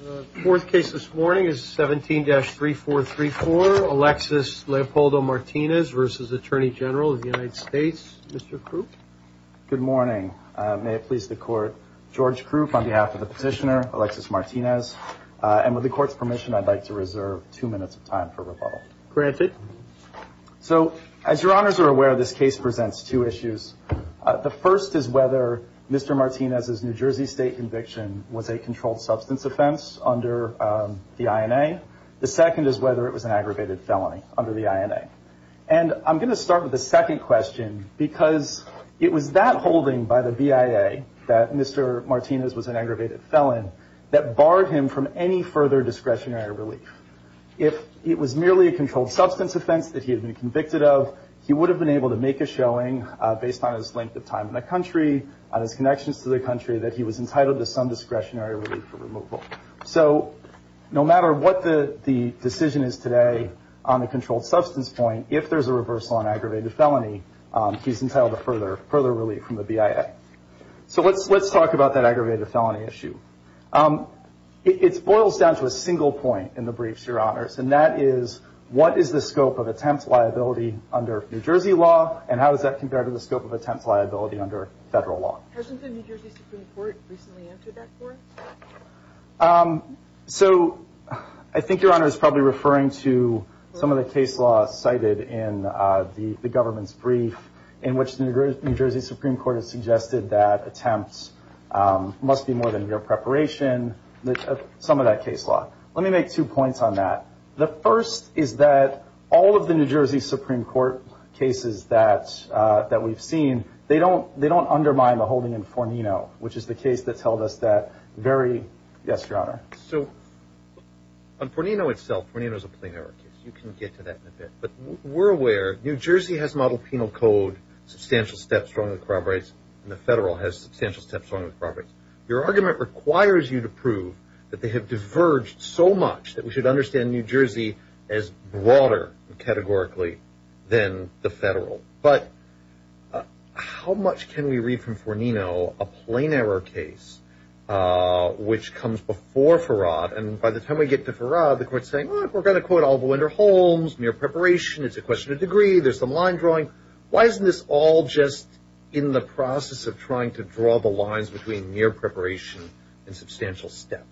The fourth case this morning is 17-3434, Alexis Leopoldo Martinez v. Attorney General of the United States. Mr. Krupp. Good morning. May it please the court, George Krupp on behalf of the petitioner, Alexis Martinez. And with the court's permission, I'd like to reserve two minutes of time for rebuttal. Granted. So, as your honors are aware, this case presents two issues. The first is whether Mr. Martinez's New Jersey State conviction was a controlled substance offense under the INA. The second is whether it was an aggravated felony under the INA. And I'm going to start with the second question because it was that holding by the BIA that Mr. Martinez was an aggravated felon that barred him from any further discretionary relief. If it was merely a controlled substance offense that he had been convicted of, he would have been able to make a showing based on his length of time in the country, on his connections to the country, that he was entitled to some discretionary relief for removal. So no matter what the decision is today on the controlled substance point, if there's a reversal on aggravated felony, he's entitled to further relief from the BIA. So let's talk about that aggravated felony issue. It boils down to a single point in the briefs, your honors, and that is what is the scope of attempt liability under New Jersey law, and how is that compared to the scope of attempt liability under federal law? Hasn't the New Jersey Supreme Court recently entered that court? So I think your honors is probably referring to some of the case laws cited in the government's brief in which the New Jersey Supreme Court has suggested that attempts must be more than mere preparation, some of that case law. Let me make two points on that. The first is that all of the New Jersey Supreme Court cases that we've seen, they don't undermine the holding in Fornino, which is the case that's held us that very – yes, your honor. So on Fornino itself, Fornino is a plain error case. You can get to that in a bit. But we're aware New Jersey has modeled penal code, substantial steps strongly corroborates, and the federal has substantial steps strongly corroborates. Your argument requires you to prove that they have diverged so much that we should understand New Jersey as broader categorically than the federal. But how much can we read from Fornino, a plain error case, which comes before Farrad, and by the time we get to Farrad, the court's saying, look, we're going to quote Oliver Wendell Holmes, mere preparation, it's a question of degree, there's some line drawing. Why isn't this all just in the process of trying to draw the lines between mere preparation and substantial step?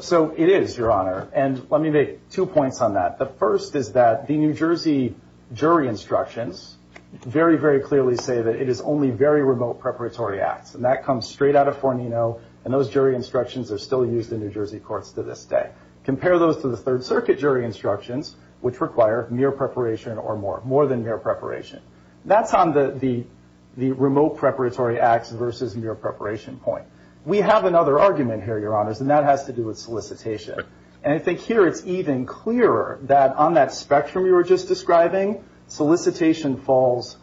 So it is, your honor. And let me make two points on that. The first is that the New Jersey jury instructions very, very clearly say that it is only very remote preparatory acts, and that comes straight out of Fornino, and those jury instructions are still used in New Jersey courts to this day. Compare those to the Third Circuit jury instructions, which require mere preparation or more, more than mere preparation. That's on the remote preparatory acts versus mere preparation point. We have another argument here, your honors, and that has to do with solicitation. And I think here it's even clearer that on that spectrum you were just describing, solicitation falls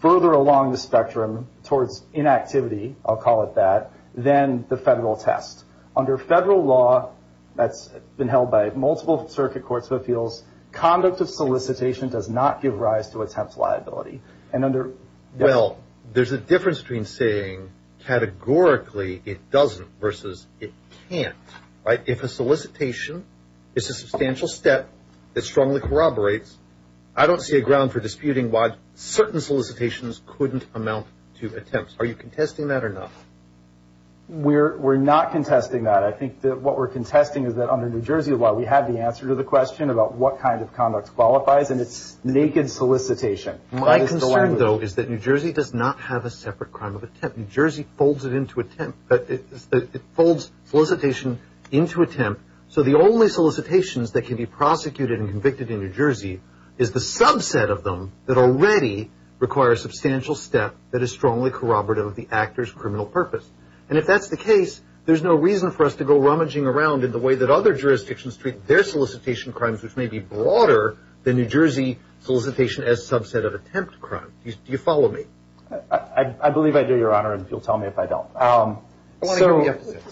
further along the spectrum towards inactivity, I'll call it that, than the federal test. Under federal law, that's been held by multiple circuit courts of appeals, conduct of solicitation does not give rise to attempt liability. Well, there's a difference between saying categorically it doesn't versus it can't. If a solicitation is a substantial step that strongly corroborates, I don't see a ground for disputing why certain solicitations couldn't amount to attempts. Are you contesting that or not? We're not contesting that. I think that what we're contesting is that under New Jersey law we have the answer to the question about what kind of conduct qualifies, and it's naked solicitation. My concern, though, is that New Jersey does not have a separate crime of attempt. New Jersey folds it into attempt. It folds solicitation into attempt, so the only solicitations that can be prosecuted and convicted in New Jersey is the subset of them that already require a substantial step that is strongly corroborative of the actor's criminal purpose. And if that's the case, there's no reason for us to go rummaging around in the way that other jurisdictions treat their solicitation crimes, which may be broader than New Jersey solicitation as subset of attempt crime. Do you follow me? I believe I do, Your Honor, and you'll tell me if I don't.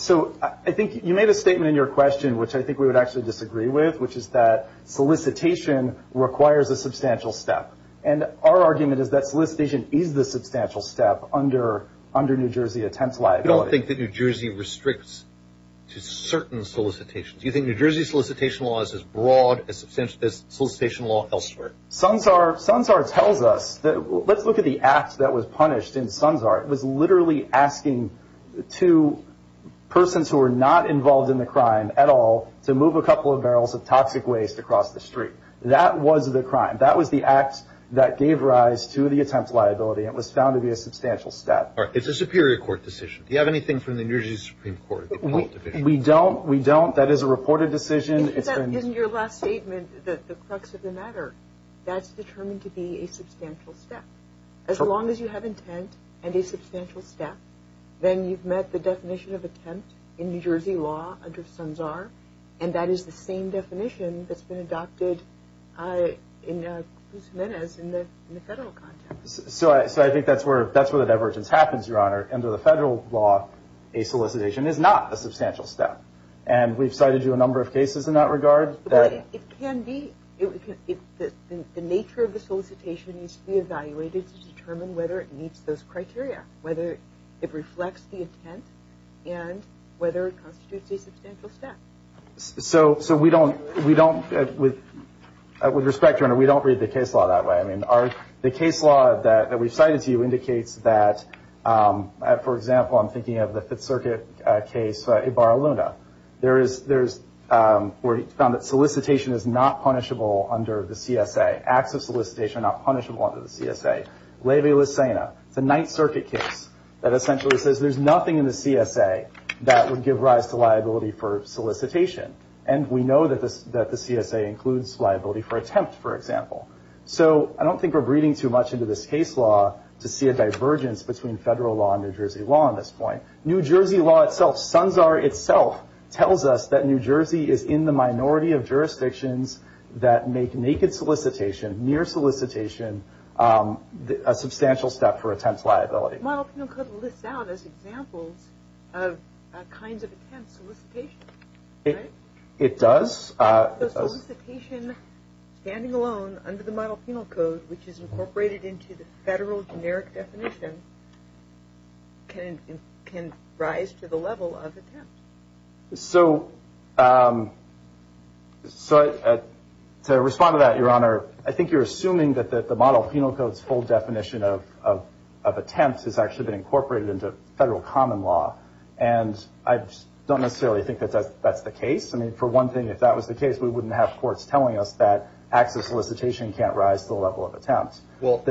So I think you made a statement in your question, which I think we would actually disagree with, which is that solicitation requires a substantial step, and our argument is that solicitation is the substantial step under New Jersey attempt liability. You don't think that New Jersey restricts to certain solicitations. Do you think New Jersey solicitation law is as broad as solicitation law elsewhere? Sunsar tells us that let's look at the act that was punished in Sunsar. It was literally asking two persons who were not involved in the crime at all to move a couple of barrels of toxic waste across the street. That was the crime. That was the act that gave rise to the attempt liability, and it was found to be a substantial step. It's a superior court decision. Do you have anything from the New Jersey Supreme Court? We don't. We don't. That is a reported decision. Isn't your last statement the crux of the matter? That's determined to be a substantial step. As long as you have intent and a substantial step, then you've met the definition of attempt in New Jersey law under Sunsar, and that is the same definition that's been adopted in Cruz Jimenez in the federal context. So I think that's where the divergence happens, Your Honor. Under the federal law, a solicitation is not a substantial step, and we've cited you a number of cases in that regard. It can be. The nature of the solicitation needs to be evaluated to determine whether it meets those criteria, whether it reflects the intent, and whether it constitutes a substantial step. So we don't, with respect, Your Honor, we don't read the case law that way. I mean, the case law that we've cited to you indicates that, for example, I'm thinking of the Fifth Circuit case Ibarra-Luna. There is where he found that solicitation is not punishable under the CSA. Acts of solicitation are not punishable under the CSA. Levy-Lisena, it's a Ninth Circuit case that essentially says there's nothing in the CSA that would give rise to liability for solicitation, and we know that the CSA includes liability for attempt, for example. So I don't think we're breeding too much into this case law to see a divergence between federal law and New Jersey law on this point. New Jersey law itself, Sunsar itself, tells us that New Jersey is in the minority of jurisdictions that make naked solicitation, near solicitation, a substantial step for attempt liability. Model Penal Code lists out as examples of kinds of attempts, solicitation, right? It does. So solicitation standing alone under the Model Penal Code, which is incorporated into the federal generic definition, can rise to the level of attempt. So to respond to that, Your Honor, I think you're assuming that the Model Penal Code's full definition of attempt has actually been incorporated into federal common law, and I don't necessarily think that that's the case. I mean, for one thing, if that was the case, we wouldn't have courts telling us that acts of solicitation can't rise to the level of attempt. Well,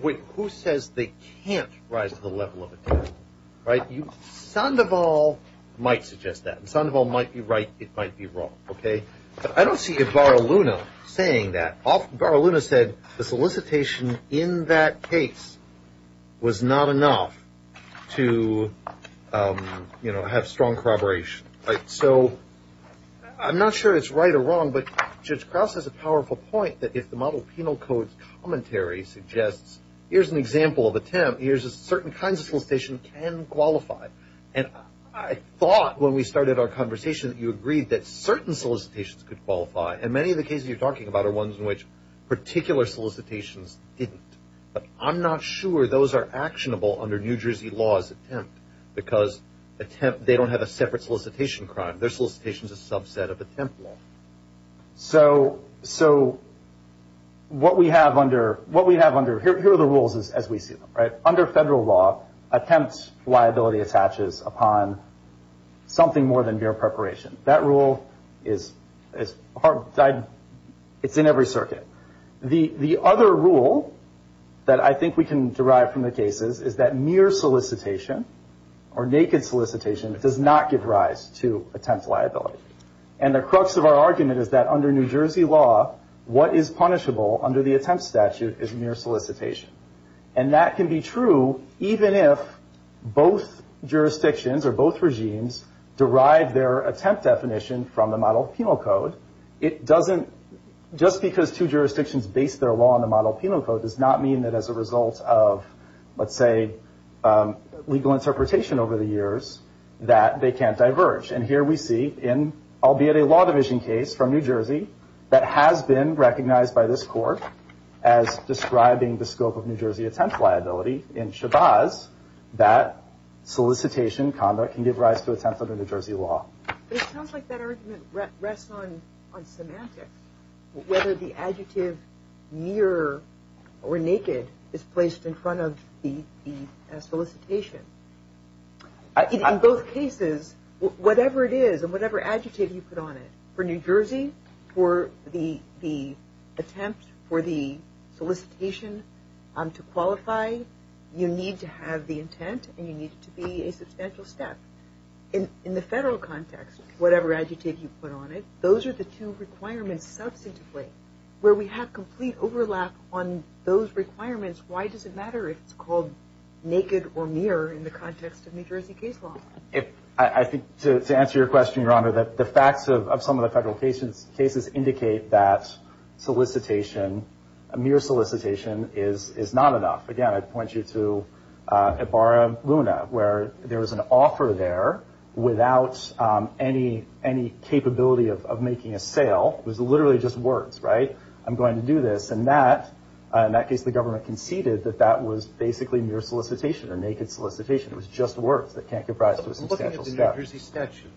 wait, who says they can't rise to the level of attempt, right? Sandoval might suggest that. Sandoval might be right. It might be wrong, okay? But I don't see Baraluna saying that. Baraluna said the solicitation in that case was not enough to, you know, have strong corroboration, right? So I'm not sure it's right or wrong, but Judge Krauss has a powerful point that if the Model Penal Code's commentary suggests, here's an example of attempt, here's a certain kind of solicitation can qualify. And I thought when we started our conversation that you agreed that certain solicitations could qualify, and many of the cases you're talking about are ones in which particular solicitations didn't. But I'm not sure those are actionable under New Jersey law as attempt, because attempt, they don't have a separate solicitation crime. Their solicitation is a subset of attempt law. So what we have under, here are the rules as we see them, right? Under federal law, attempt liability attaches upon something more than mere preparation. That rule is hard, it's in every circuit. The other rule that I think we can derive from the cases is that mere solicitation, or naked solicitation, does not give rise to attempt liability. And the crux of our argument is that under New Jersey law, what is punishable under the attempt statute is mere solicitation. And that can be true even if both jurisdictions or both regimes derive their attempt definition from the Model Penal Code. It doesn't, just because two jurisdictions base their law on the Model Penal Code, does not mean that as a result of, let's say, legal interpretation over the years, that they can't diverge. And here we see, albeit a law division case from New Jersey, that has been recognized by this court as describing the scope of New Jersey attempt liability in Shabazz, that solicitation conduct can give rise to attempt under New Jersey law. But it sounds like that argument rests on semantics, whether the adjective mere or naked is placed in front of the solicitation. In both cases, whatever it is and whatever adjective you put on it, for New Jersey, for the attempt, for the solicitation to qualify, you need to have the intent and you need it to be a substantial step. In the federal context, whatever adjective you put on it, those are the two requirements substantively. Where we have complete overlap on those requirements, why does it matter if it's called naked or mere in the context of New Jersey case law? I think to answer your question, Your Honor, the facts of some of the federal cases indicate that solicitation, mere solicitation, is not enough. Again, I point you to Ibarra Luna, where there was an offer there without any capability of making a sale. It was literally just words, right? I'm going to do this. And in that case, the government conceded that that was basically mere solicitation or naked solicitation. It was just words that can't give rise to a substantial step. Here's the statute,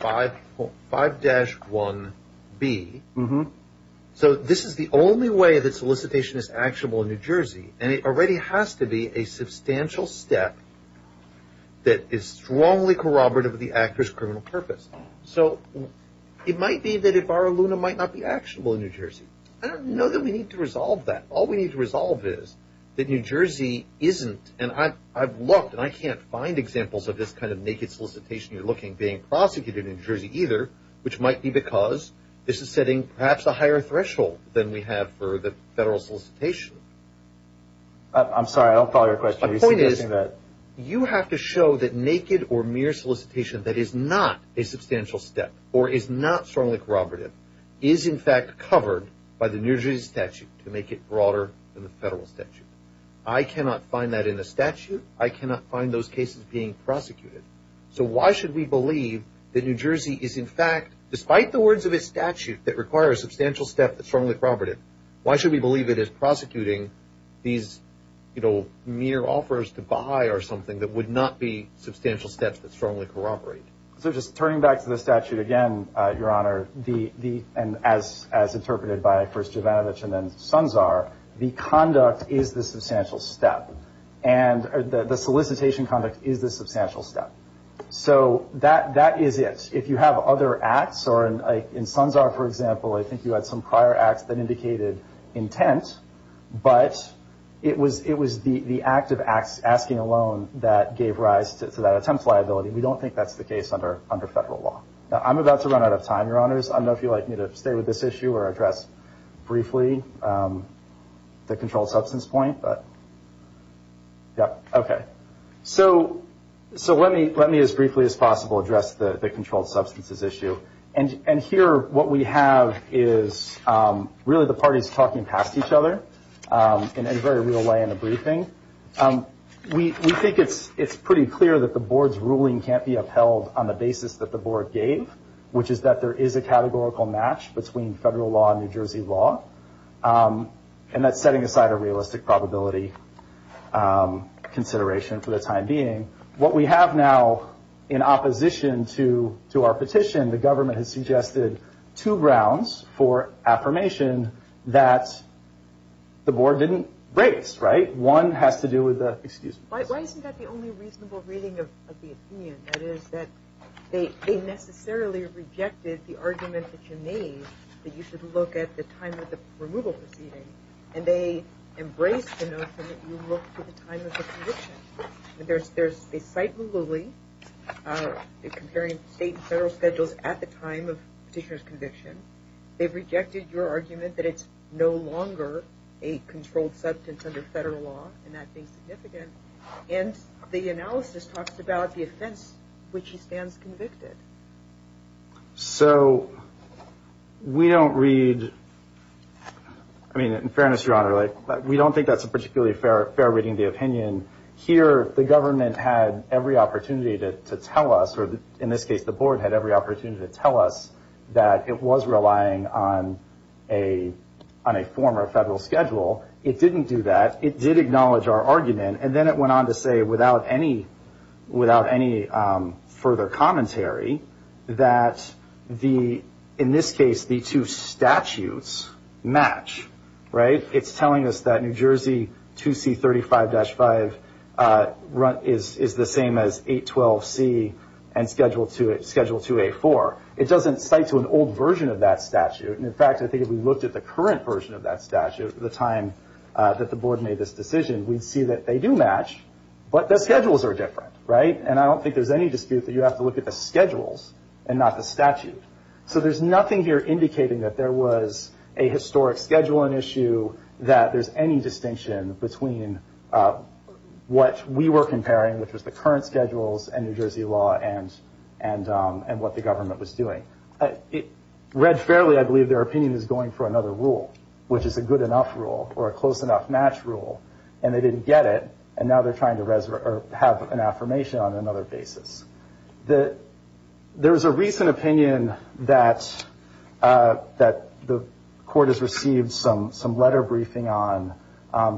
2C5-1B. So this is the only way that solicitation is actionable in New Jersey, and it already has to be a substantial step that is strongly corroborative of the actor's criminal purpose. So it might be that Ibarra Luna might not be actionable in New Jersey. I don't know that we need to resolve that. All we need to resolve is that New Jersey isn't, and I've looked and I can't find examples of this kind of naked solicitation you're looking, being prosecuted in New Jersey either, which might be because this is setting perhaps a higher threshold than we have for the federal solicitation. I'm sorry, I don't follow your question. The point is you have to show that naked or mere solicitation that is not a substantial step or is not strongly corroborative is in fact covered by the New Jersey statute to make it broader than the federal statute. I cannot find that in the statute. I cannot find those cases being prosecuted. So why should we believe that New Jersey is in fact, despite the words of its statute that require a substantial step that's strongly corroborative, why should we believe it is prosecuting these, you know, mere offers to buy or something that would not be substantial steps that strongly corroborate? So just turning back to the statute again, Your Honor, and as interpreted by first Jovanovich and then Sunzar, the conduct is the substantial step. And the solicitation conduct is the substantial step. So that is it. If you have other acts, or in Sunzar, for example, I think you had some prior acts that indicated intent, but it was the act of asking a loan that gave rise to that attempt liability. We don't think that's the case under federal law. Now, I'm about to run out of time, Your Honors. I don't know if you'd like me to stay with this issue or address briefly the controlled substance point. Okay. So let me as briefly as possible address the controlled substances issue. And here what we have is really the parties talking past each other in a very real way in a briefing. We think it's pretty clear that the board's ruling can't be upheld on the basis that the board gave, which is that there is a categorical match between federal law and New Jersey law. And that's setting aside a realistic probability consideration for the time being. What we have now in opposition to our petition, the government has suggested two grounds for affirmation that the board didn't raise. One has to do with the excuse. Why isn't that the only reasonable reading of the opinion? That is that they necessarily rejected the argument that you made, that you should look at the time of the removal proceeding, and they embraced the notion that you look to the time of the conviction. They cite Malooly, comparing state and federal schedules at the time of petitioner's conviction. They've rejected your argument that it's no longer a controlled substance under federal law, and that being significant. And the analysis talks about the offense which he stands convicted. So we don't read, I mean, in fairness, Your Honor, we don't think that's a particularly fair reading of the opinion. Here the government had every opportunity to tell us, or in this case the board had every opportunity to tell us, that it was relying on a former federal schedule. It didn't do that. It did acknowledge our argument, and then it went on to say, without any further commentary, that in this case the two statutes match. It's telling us that New Jersey 2C35-5 is the same as 812C and Schedule 2A4. It doesn't cite to an old version of that statute. In fact, I think if we looked at the current version of that statute, the time that the board made this decision, we'd see that they do match, but the schedules are different. And I don't think there's any dispute that you have to look at the schedules and not the statute. So there's nothing here indicating that there was a historic scheduling issue, that there's any distinction between what we were comparing, which was the current schedules and New Jersey law and what the government was doing. Read fairly, I believe their opinion is going for another rule, which is a good enough rule or a close enough match rule, and they didn't get it, and now they're trying to have an affirmation on another basis. There was a recent opinion that the court has received some letter briefing on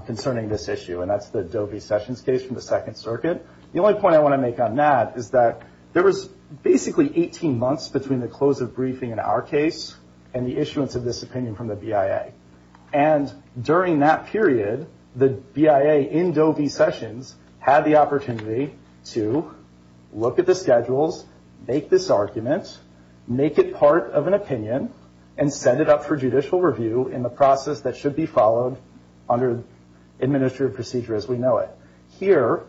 concerning this issue, and that's the Doe v. Sessions case from the Second Circuit. The only point I want to make on that is that there was basically 18 months between the close of briefing in our case and the issuance of this opinion from the BIA. And during that period, the BIA in Doe v. Sessions had the opportunity to look at the schedules, make this argument, make it part of an opinion, and set it up for judicial review in the process that should be followed under administrative procedure as we know it. Here,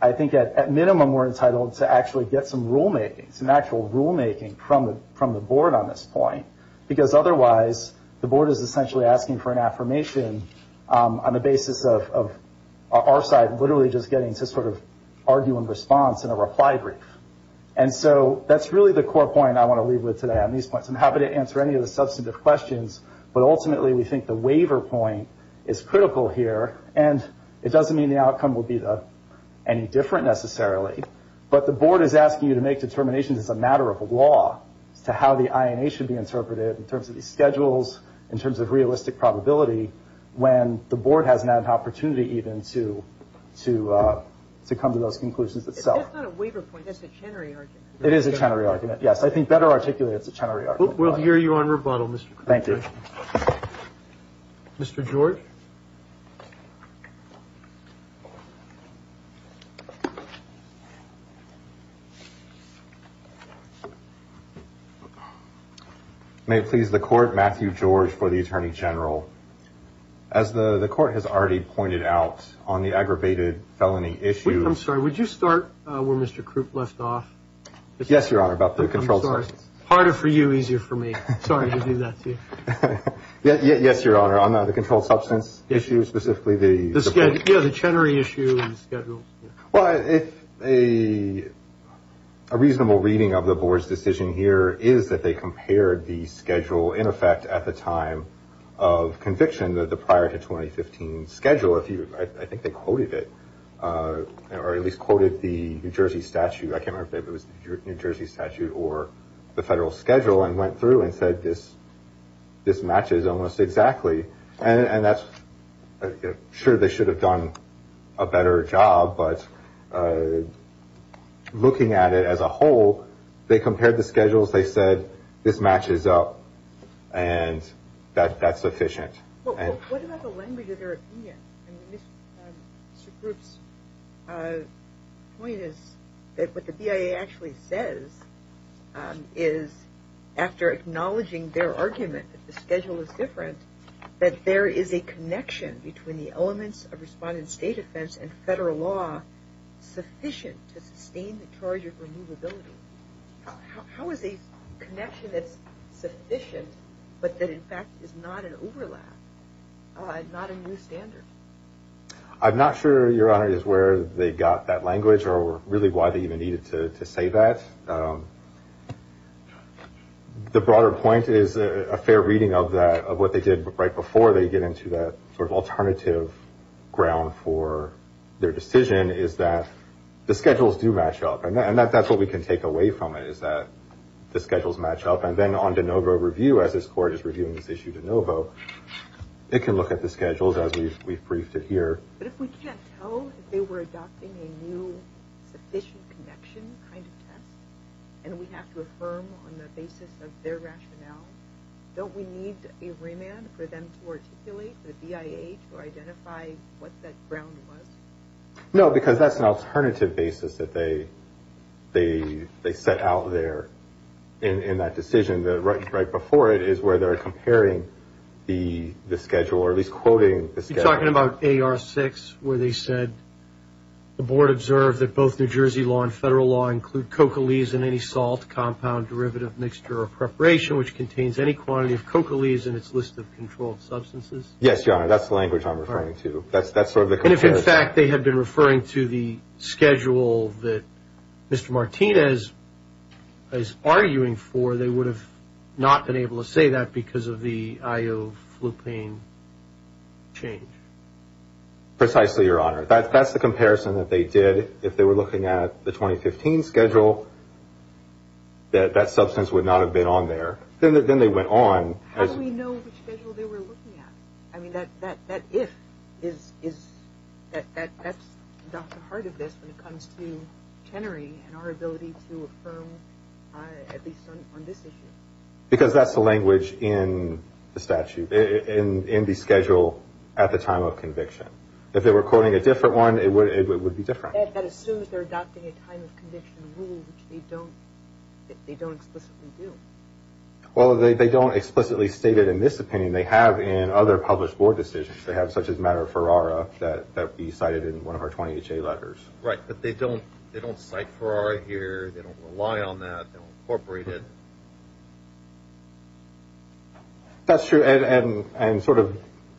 I think at minimum we're entitled to actually get some rulemaking, some actual rulemaking from the board on this point, because otherwise the board is essentially asking for an affirmation on the basis of our side literally just getting to sort of argue in response in a reply brief. And so that's really the core point I want to leave with today on these points. I'm happy to answer any of the substantive questions, but ultimately we think the waiver point is critical here, and it doesn't mean the outcome will be any different necessarily, but the board is asking you to make determinations as a matter of law as to how the INA should be interpreted in terms of the schedules, in terms of realistic probability, when the board hasn't had an opportunity even to come to those conclusions itself. It's not a waiver point, it's a Chenery argument. It is a Chenery argument, yes. I think better articulated it's a Chenery argument. We'll hear you on rebuttal, Mr. Kruger. Thank you. Mr. George. May it please the court, Matthew George for the Attorney General. As the court has already pointed out on the aggravated felony issue. I'm sorry, would you start where Mr. Krupp left off? Yes, Your Honor, about the control services. Harder for you, easier for me. Sorry to do that to you. Yes, Your Honor, on the controlled substance issue, specifically the... Yeah, the Chenery issue and the schedule. Well, a reasonable reading of the board's decision here is that they compared the schedule, in effect, at the time of conviction, the prior to 2015 schedule. I think they quoted it, or at least quoted the New Jersey statute. I can't remember if it was the New Jersey statute or the federal schedule, and went through and said this matches almost exactly. And that's... Sure, they should have done a better job, but looking at it as a whole, they compared the schedules, they said this matches up, and that's sufficient. What about the language of their opinion? Mr. Krupp's point is that what the BIA actually says is, after acknowledging their argument that the schedule is different, that there is a connection between the elements of respondent state offense and federal law sufficient to sustain the charge of removability. How is a connection that's sufficient but that, in fact, is not an overlap, not a new standard? I'm not sure, Your Honor, is where they got that language or really why they even needed to say that. The broader point is a fair reading of what they did right before they get into that sort of alternative ground for their decision is that the schedules do match up, and that's what we can take away from it is that the schedules match up. And then on de novo review, as this Court is reviewing this issue de novo, it can look at the schedules as we've briefed it here. But if we can't tell if they were adopting a new sufficient connection kind of test and we have to affirm on the basis of their rationale, don't we need a remand for them to articulate to the BIA to identify what that ground was? No, because that's an alternative basis that they set out there in that decision. Right before it is where they're comparing the schedule or at least quoting the schedule. Are you talking about AR6 where they said the Board observed that both New Jersey law and federal law include coccolize in any salt, compound, derivative, mixture, or preparation which contains any quantity of coccolize in its list of controlled substances? Yes, Your Honor, that's the language I'm referring to. That's sort of the comparison. And if, in fact, they had been referring to the schedule that Mr. Martinez is arguing for, they would have not been able to say that because of the ioflupine change? Precisely, Your Honor. That's the comparison that they did if they were looking at the 2015 schedule that that substance would not have been on there. Then they went on. How do we know which schedule they were looking at? I mean, that if is at the heart of this when it comes to Chenery and our ability to affirm at least on this issue. Because that's the language in the statute, in the schedule at the time of conviction. If they were quoting a different one, it would be different. That assumes they're adopting a time of conviction rule, which they don't explicitly do. Well, they don't explicitly state it in this opinion. They have in other published board decisions. They have such as matter of Ferrara that would be cited in one of our 20HA letters. Right, but they don't cite Ferrara here. They don't rely on that. They don't incorporate it. That's true. And sort of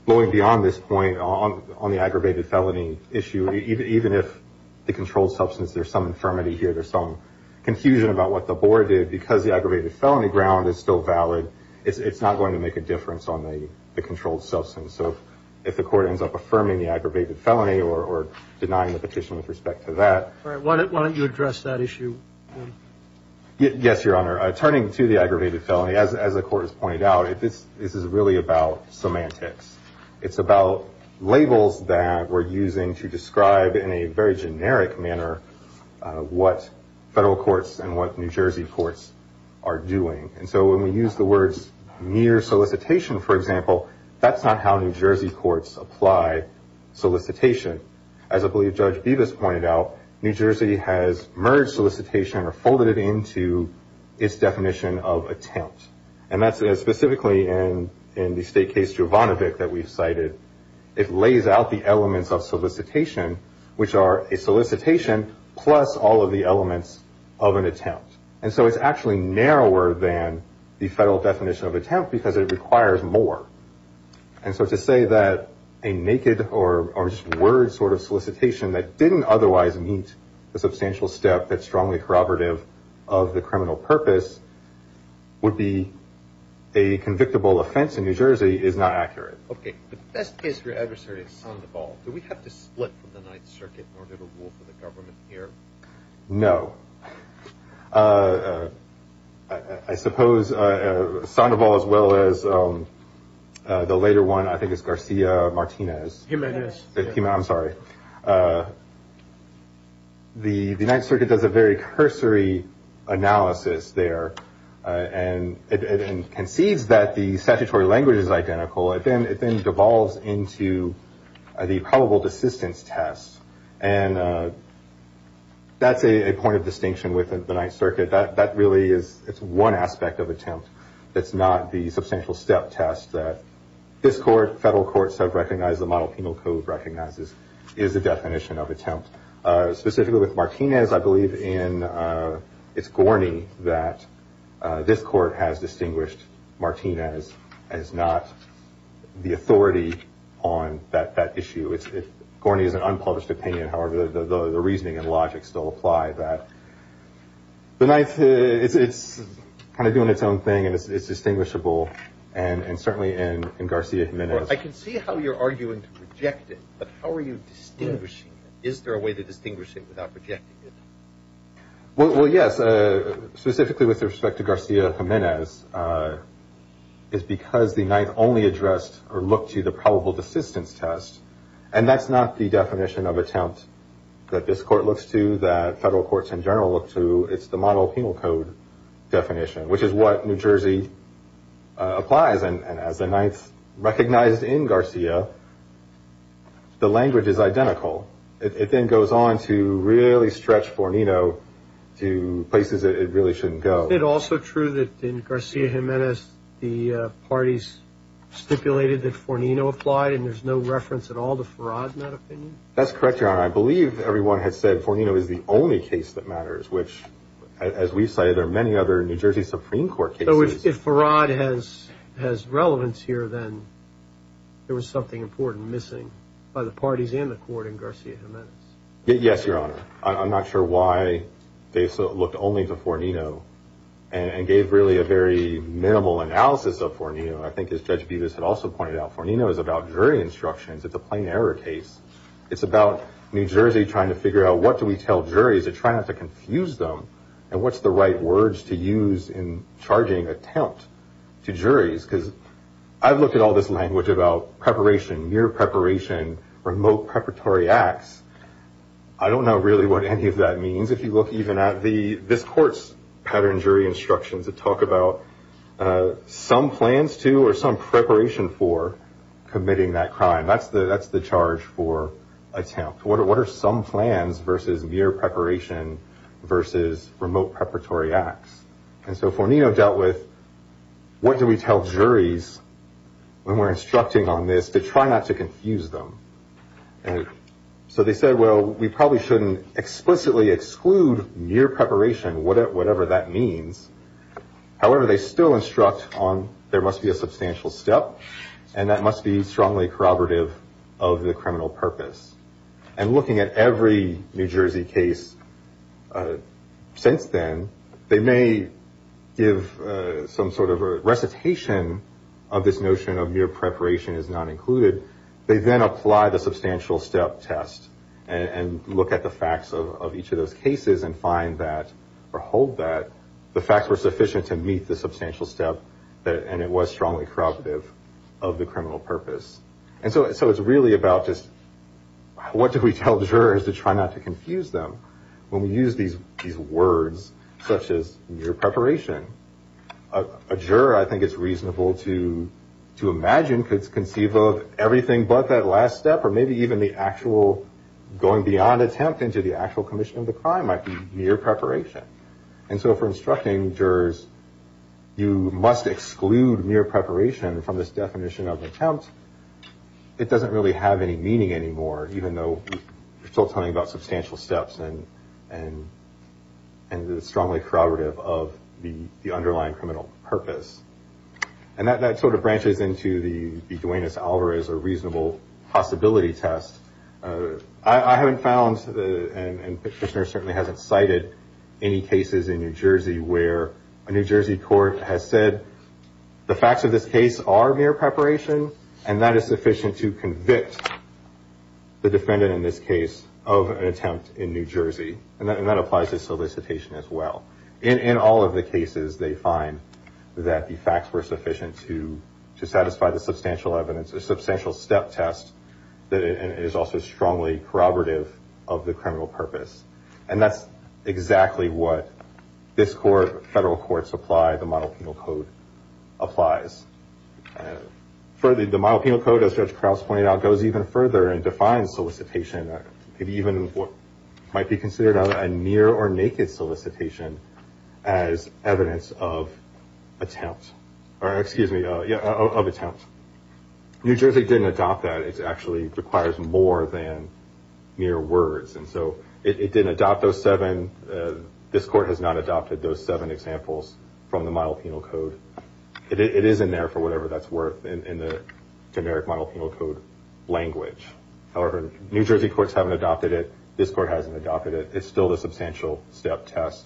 going beyond this point on the aggravated felony issue, even if the controlled substance, there's some infirmity here, there's some confusion about what the board did, because the aggravated felony ground is still valid, it's not going to make a difference on the controlled substance. So if the court ends up affirming the aggravated felony or denying the petition with respect to that. Why don't you address that issue? Yes, Your Honor. Turning to the aggravated felony, as the Court has pointed out, this is really about semantics. It's about labels that we're using to describe in a very generic manner what federal courts and what New Jersey courts are doing. And so when we use the words near solicitation, for example, that's not how New Jersey courts apply solicitation. As I believe Judge Bevis pointed out, New Jersey has merged solicitation or folded it into its definition of attempt. And that's specifically in the state case Juvonovic that we've cited. It lays out the elements of solicitation, which are a solicitation plus all of the elements of an attempt. And so it's actually narrower than the federal definition of attempt because it requires more. And so to say that a naked or just word sort of solicitation that didn't otherwise meet the substantial step that's strongly corroborative of the criminal purpose would be a convictable offense in New Jersey is not accurate. Okay. The best case for your adversary is Sandoval. Do we have to split from the Ninth Circuit in order to rule for the government here? No. I suppose Sandoval as well as the later one I think is Garcia Martinez. Jimenez. I'm sorry. The Ninth Circuit does a very cursory analysis there and concedes that the statutory language is identical. It then devolves into the probable desistance test. And that's a point of distinction with the Ninth Circuit. That really is one aspect of attempt. It's not the substantial step test that this court, federal courts have recognized, the Model Penal Code recognizes is the definition of attempt. Specifically with Martinez, I believe it's corny that this court has distinguished Martinez as not the authority on that issue. It's corny as an unpublished opinion. However, the reasoning and logic still apply that the Ninth, it's kind of doing its own thing and it's distinguishable and certainly in Garcia Jimenez. I can see how you're arguing to reject it, but how are you distinguishing it? Is there a way to distinguish it without rejecting it? Well, yes. Specifically with respect to Garcia Jimenez, it's because the Ninth only addressed or looked to the probable desistance test. And that's not the definition of attempt that this court looks to, that federal courts in general look to. It's the Model Penal Code definition, which is what New Jersey applies. And as the Ninth recognized in Garcia, the language is identical. It then goes on to really stretch Fornino to places it really shouldn't go. Is it also true that in Garcia Jimenez, the parties stipulated that Fornino applied and there's no reference at all to Farrad in that opinion? That's correct, Your Honor. I believe everyone has said Fornino is the only case that matters, which as we've cited, there are many other New Jersey Supreme Court cases. So if Farrad has relevance here, then there was something important missing by the parties and the court in Garcia Jimenez. Yes, Your Honor. I'm not sure why they looked only to Fornino and gave really a very minimal analysis of Fornino. I think as Judge Bevis had also pointed out, Fornino is about jury instructions. It's a plain error case. It's about New Jersey trying to figure out what do we tell juries and trying not to confuse them and what's the right words to use in charging attempt to juries. I've looked at all this language about preparation, mere preparation, remote preparatory acts. I don't know really what any of that means. If you look even at this court's pattern jury instructions, it talks about some plans to or some preparation for committing that crime. That's the charge for attempt. What are some plans versus mere preparation versus remote preparatory acts? And so Fornino dealt with what do we tell juries when we're instructing on this to try not to confuse them. So they said, well, we probably shouldn't explicitly exclude mere preparation, whatever that means. However, they still instruct on there must be a substantial step and that must be strongly corroborative of the criminal purpose. And looking at every New Jersey case since then, they may give some sort of a recitation of this notion of mere preparation is not included. They then apply the substantial step test and look at the facts of each of those cases and find that or hold that the facts were sufficient to meet the substantial step and it was strongly corroborative of the criminal purpose. And so it's really about just what do we tell jurors to try not to confuse them when we use these words such as mere preparation. A juror, I think, is reasonable to imagine could conceive of everything but that last step or maybe even the actual going beyond attempt into the actual commission of the crime might be mere preparation. And so for instructing jurors, you must exclude mere preparation from this definition of attempt because it doesn't really have any meaning anymore, even though we're still talking about substantial steps and it's strongly corroborative of the underlying criminal purpose. And that sort of branches into the Duenas-Alvarez or reasonable possibility test. I haven't found, and Petitioner certainly hasn't cited any cases in New Jersey where a New Jersey court has said the facts of this case are mere preparation and that is sufficient to convict the defendant in this case of an attempt in New Jersey and that applies to solicitation as well. In all of the cases, they find that the facts were sufficient to satisfy the substantial evidence, the substantial step test that is also strongly corroborative of the criminal purpose. And that's exactly what this court, federal courts apply, the model penal code applies. The model penal code, as Judge Krause pointed out, goes even further and defines solicitation and even what might be considered a mere or naked solicitation as evidence of attempt. Or excuse me, of attempt. New Jersey didn't adopt that. It actually requires more than mere words. And so it didn't adopt those seven. This court has not adopted those seven examples from the model penal code. It is in there for whatever that's worth in the generic model penal code language. However, New Jersey courts haven't adopted it. This court hasn't adopted it. It's still the substantial step test.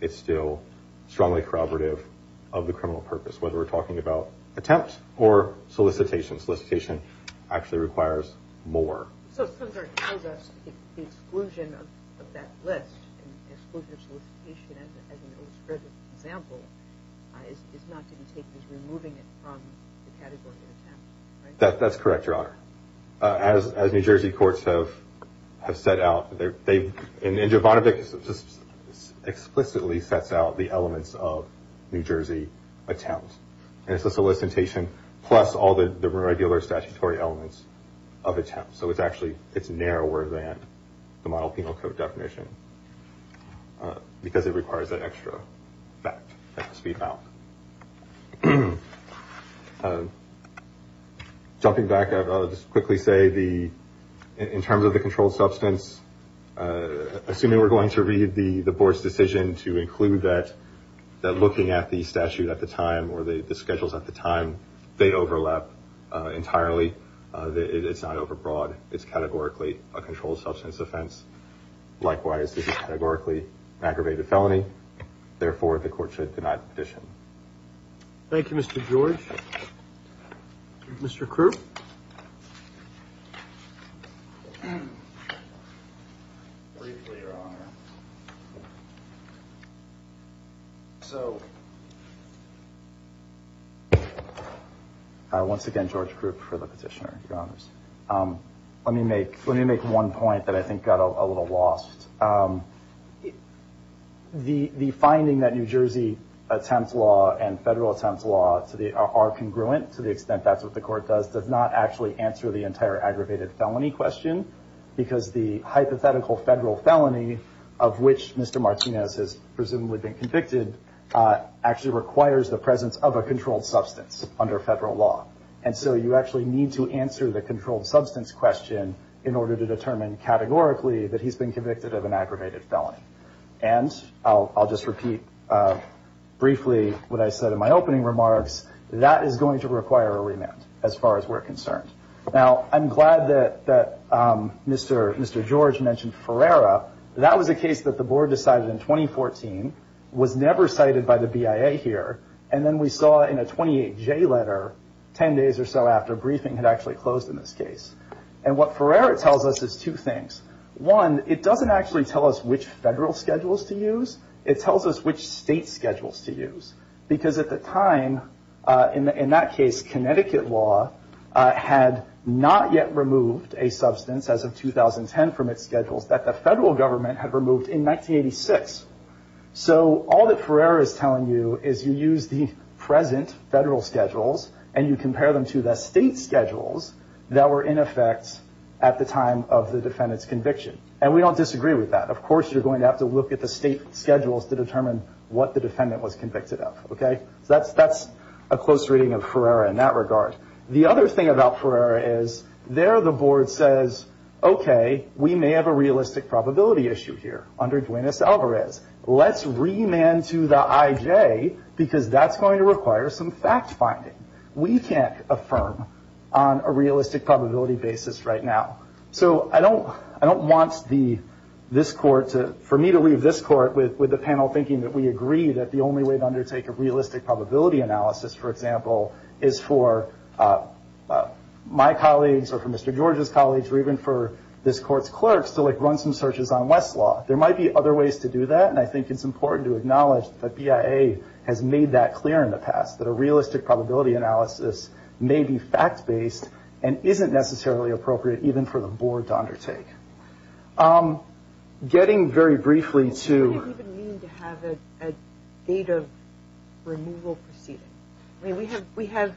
It's still strongly corroborative of the criminal purpose, whether we're talking about attempt or solicitation. Solicitation actually requires more. So the exclusion of that list, exclusion of solicitation as an illustrative example, is not to be taken as removing it from the category of attempt, right? That's correct, Your Honor. As New Jersey courts have set out, and Javonovic explicitly sets out the elements of New Jersey attempt. And it's the solicitation plus all the regular statutory elements of attempt. So it's actually narrower than the model penal code definition because it requires that extra fact that must be found. Jumping back, I'll just quickly say in terms of the controlled substance, assuming we're going to read the board's decision to include that, that looking at the statute at the time or the schedules at the time, they overlap entirely. It's not overbroad. It's categorically a controlled substance offense. Likewise, this is categorically an aggravated felony. Therefore, the court should deny the petition. Mr. Krupp? Briefly, Your Honor. So, once again, George Krupp for the petitioner, Your Honor. Let me make one point that I think got a little lost. The finding that New Jersey attempt law and federal attempt law are congruent to the extent that that's what the court does does not actually answer the entire aggravated felony question because the hypothetical federal felony of which Mr. Martinez has presumably been convicted actually requires the presence of a controlled substance under federal law. And so you actually need to answer the controlled substance question in order to determine categorically that he's been convicted of an aggravated felony. And I'll just repeat briefly what I said in my opening remarks. That is going to require a remand as far as we're concerned. Now, I'm glad that Mr. George mentioned Ferreira. That was a case that the board decided in 2014, was never cited by the BIA here, and then we saw in a 28J letter 10 days or so after briefing had actually closed in this case. And what Ferreira tells us is two things. One, it doesn't actually tell us which federal schedules to use. It tells us which state schedules to use. Because at the time, in that case, Connecticut law had not yet removed a substance as of 2010 from its schedules that the federal government had removed in 1986. So all that Ferreira is telling you is you use the present federal schedules and you compare them to the state schedules that were in effect at the time of the defendant's conviction. And we don't disagree with that. Of course you're going to have to look at the state schedules to determine what the defendant was convicted of. So that's a close reading of Ferreira in that regard. The other thing about Ferreira is there the board says, okay, we may have a realistic probability issue here under Duenas-Alvarez. Let's remand to the IJ because that's going to require some fact-finding. We can't affirm on a realistic probability basis right now. So I don't want for me to leave this court with the panel thinking that we agree that the only way to undertake a realistic probability analysis, for example, is for my colleagues or for Mr. George's colleagues or even for this court's clerks to run some searches on Westlaw. There might be other ways to do that. And I think it's important to acknowledge that BIA has made that clear in the past, that a realistic probability analysis may be fact-based and isn't necessarily appropriate even for the board to undertake. Getting very briefly to- What does it even mean to have a date of removal proceeding? I mean, we have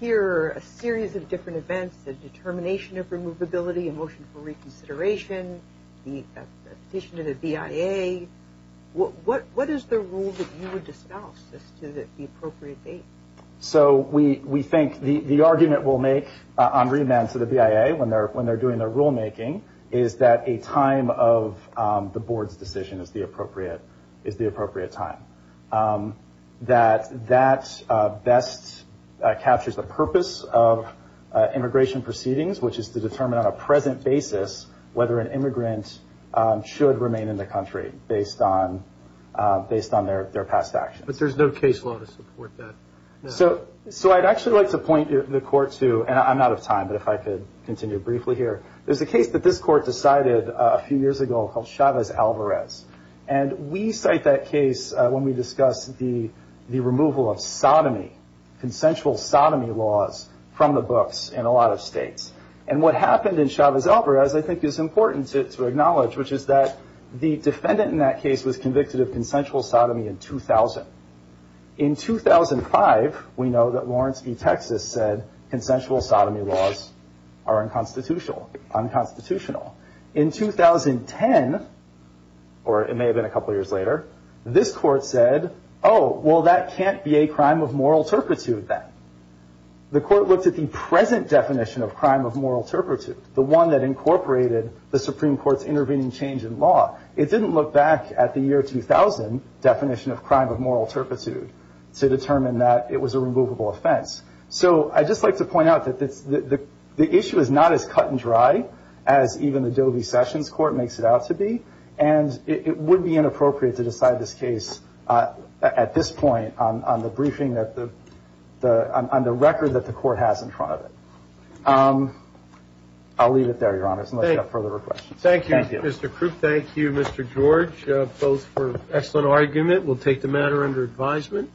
here a series of different events, a determination of removability, a motion for reconsideration, a petition to the BIA. What is the rule that you would discouse as to the appropriate date? So we think the argument we'll make on remand to the BIA when they're doing their rulemaking is that a time of the board's decision is the appropriate time. That that best captures the purpose of immigration proceedings, which is to determine on a present basis whether an immigrant should remain in the country based on their past actions. But there's no case law to support that. So I'd actually like to point the court to, and I'm out of time, but if I could continue briefly here. There's a case that this court decided a few years ago called Chavez-Alvarez. And we cite that case when we discuss the removal of sodomy, consensual sodomy laws, from the books in a lot of states. And what happened in Chavez-Alvarez I think is important to acknowledge, which is that the defendant in that case was convicted of consensual sodomy in 2000. In 2005, we know that Lawrence v. Texas said consensual sodomy laws are unconstitutional. In 2010, or it may have been a couple years later, this court said, oh, well, that can't be a crime of moral turpitude then. The court looked at the present definition of crime of moral turpitude, the one that incorporated the Supreme Court's intervening change in law. It didn't look back at the year 2000 definition of crime of moral turpitude to determine that it was a removable offense. So I'd just like to point out that the issue is not as cut and dry as even the Doe v. Sessions court makes it out to be. And it would be inappropriate to decide this case at this point on the briefing, on the record that the court has in front of it. I'll leave it there, Your Honor, unless you have further questions. Thank you, Mr. Krupp. Thank you, Mr. George, both for an excellent argument. We'll take the matter under advisement.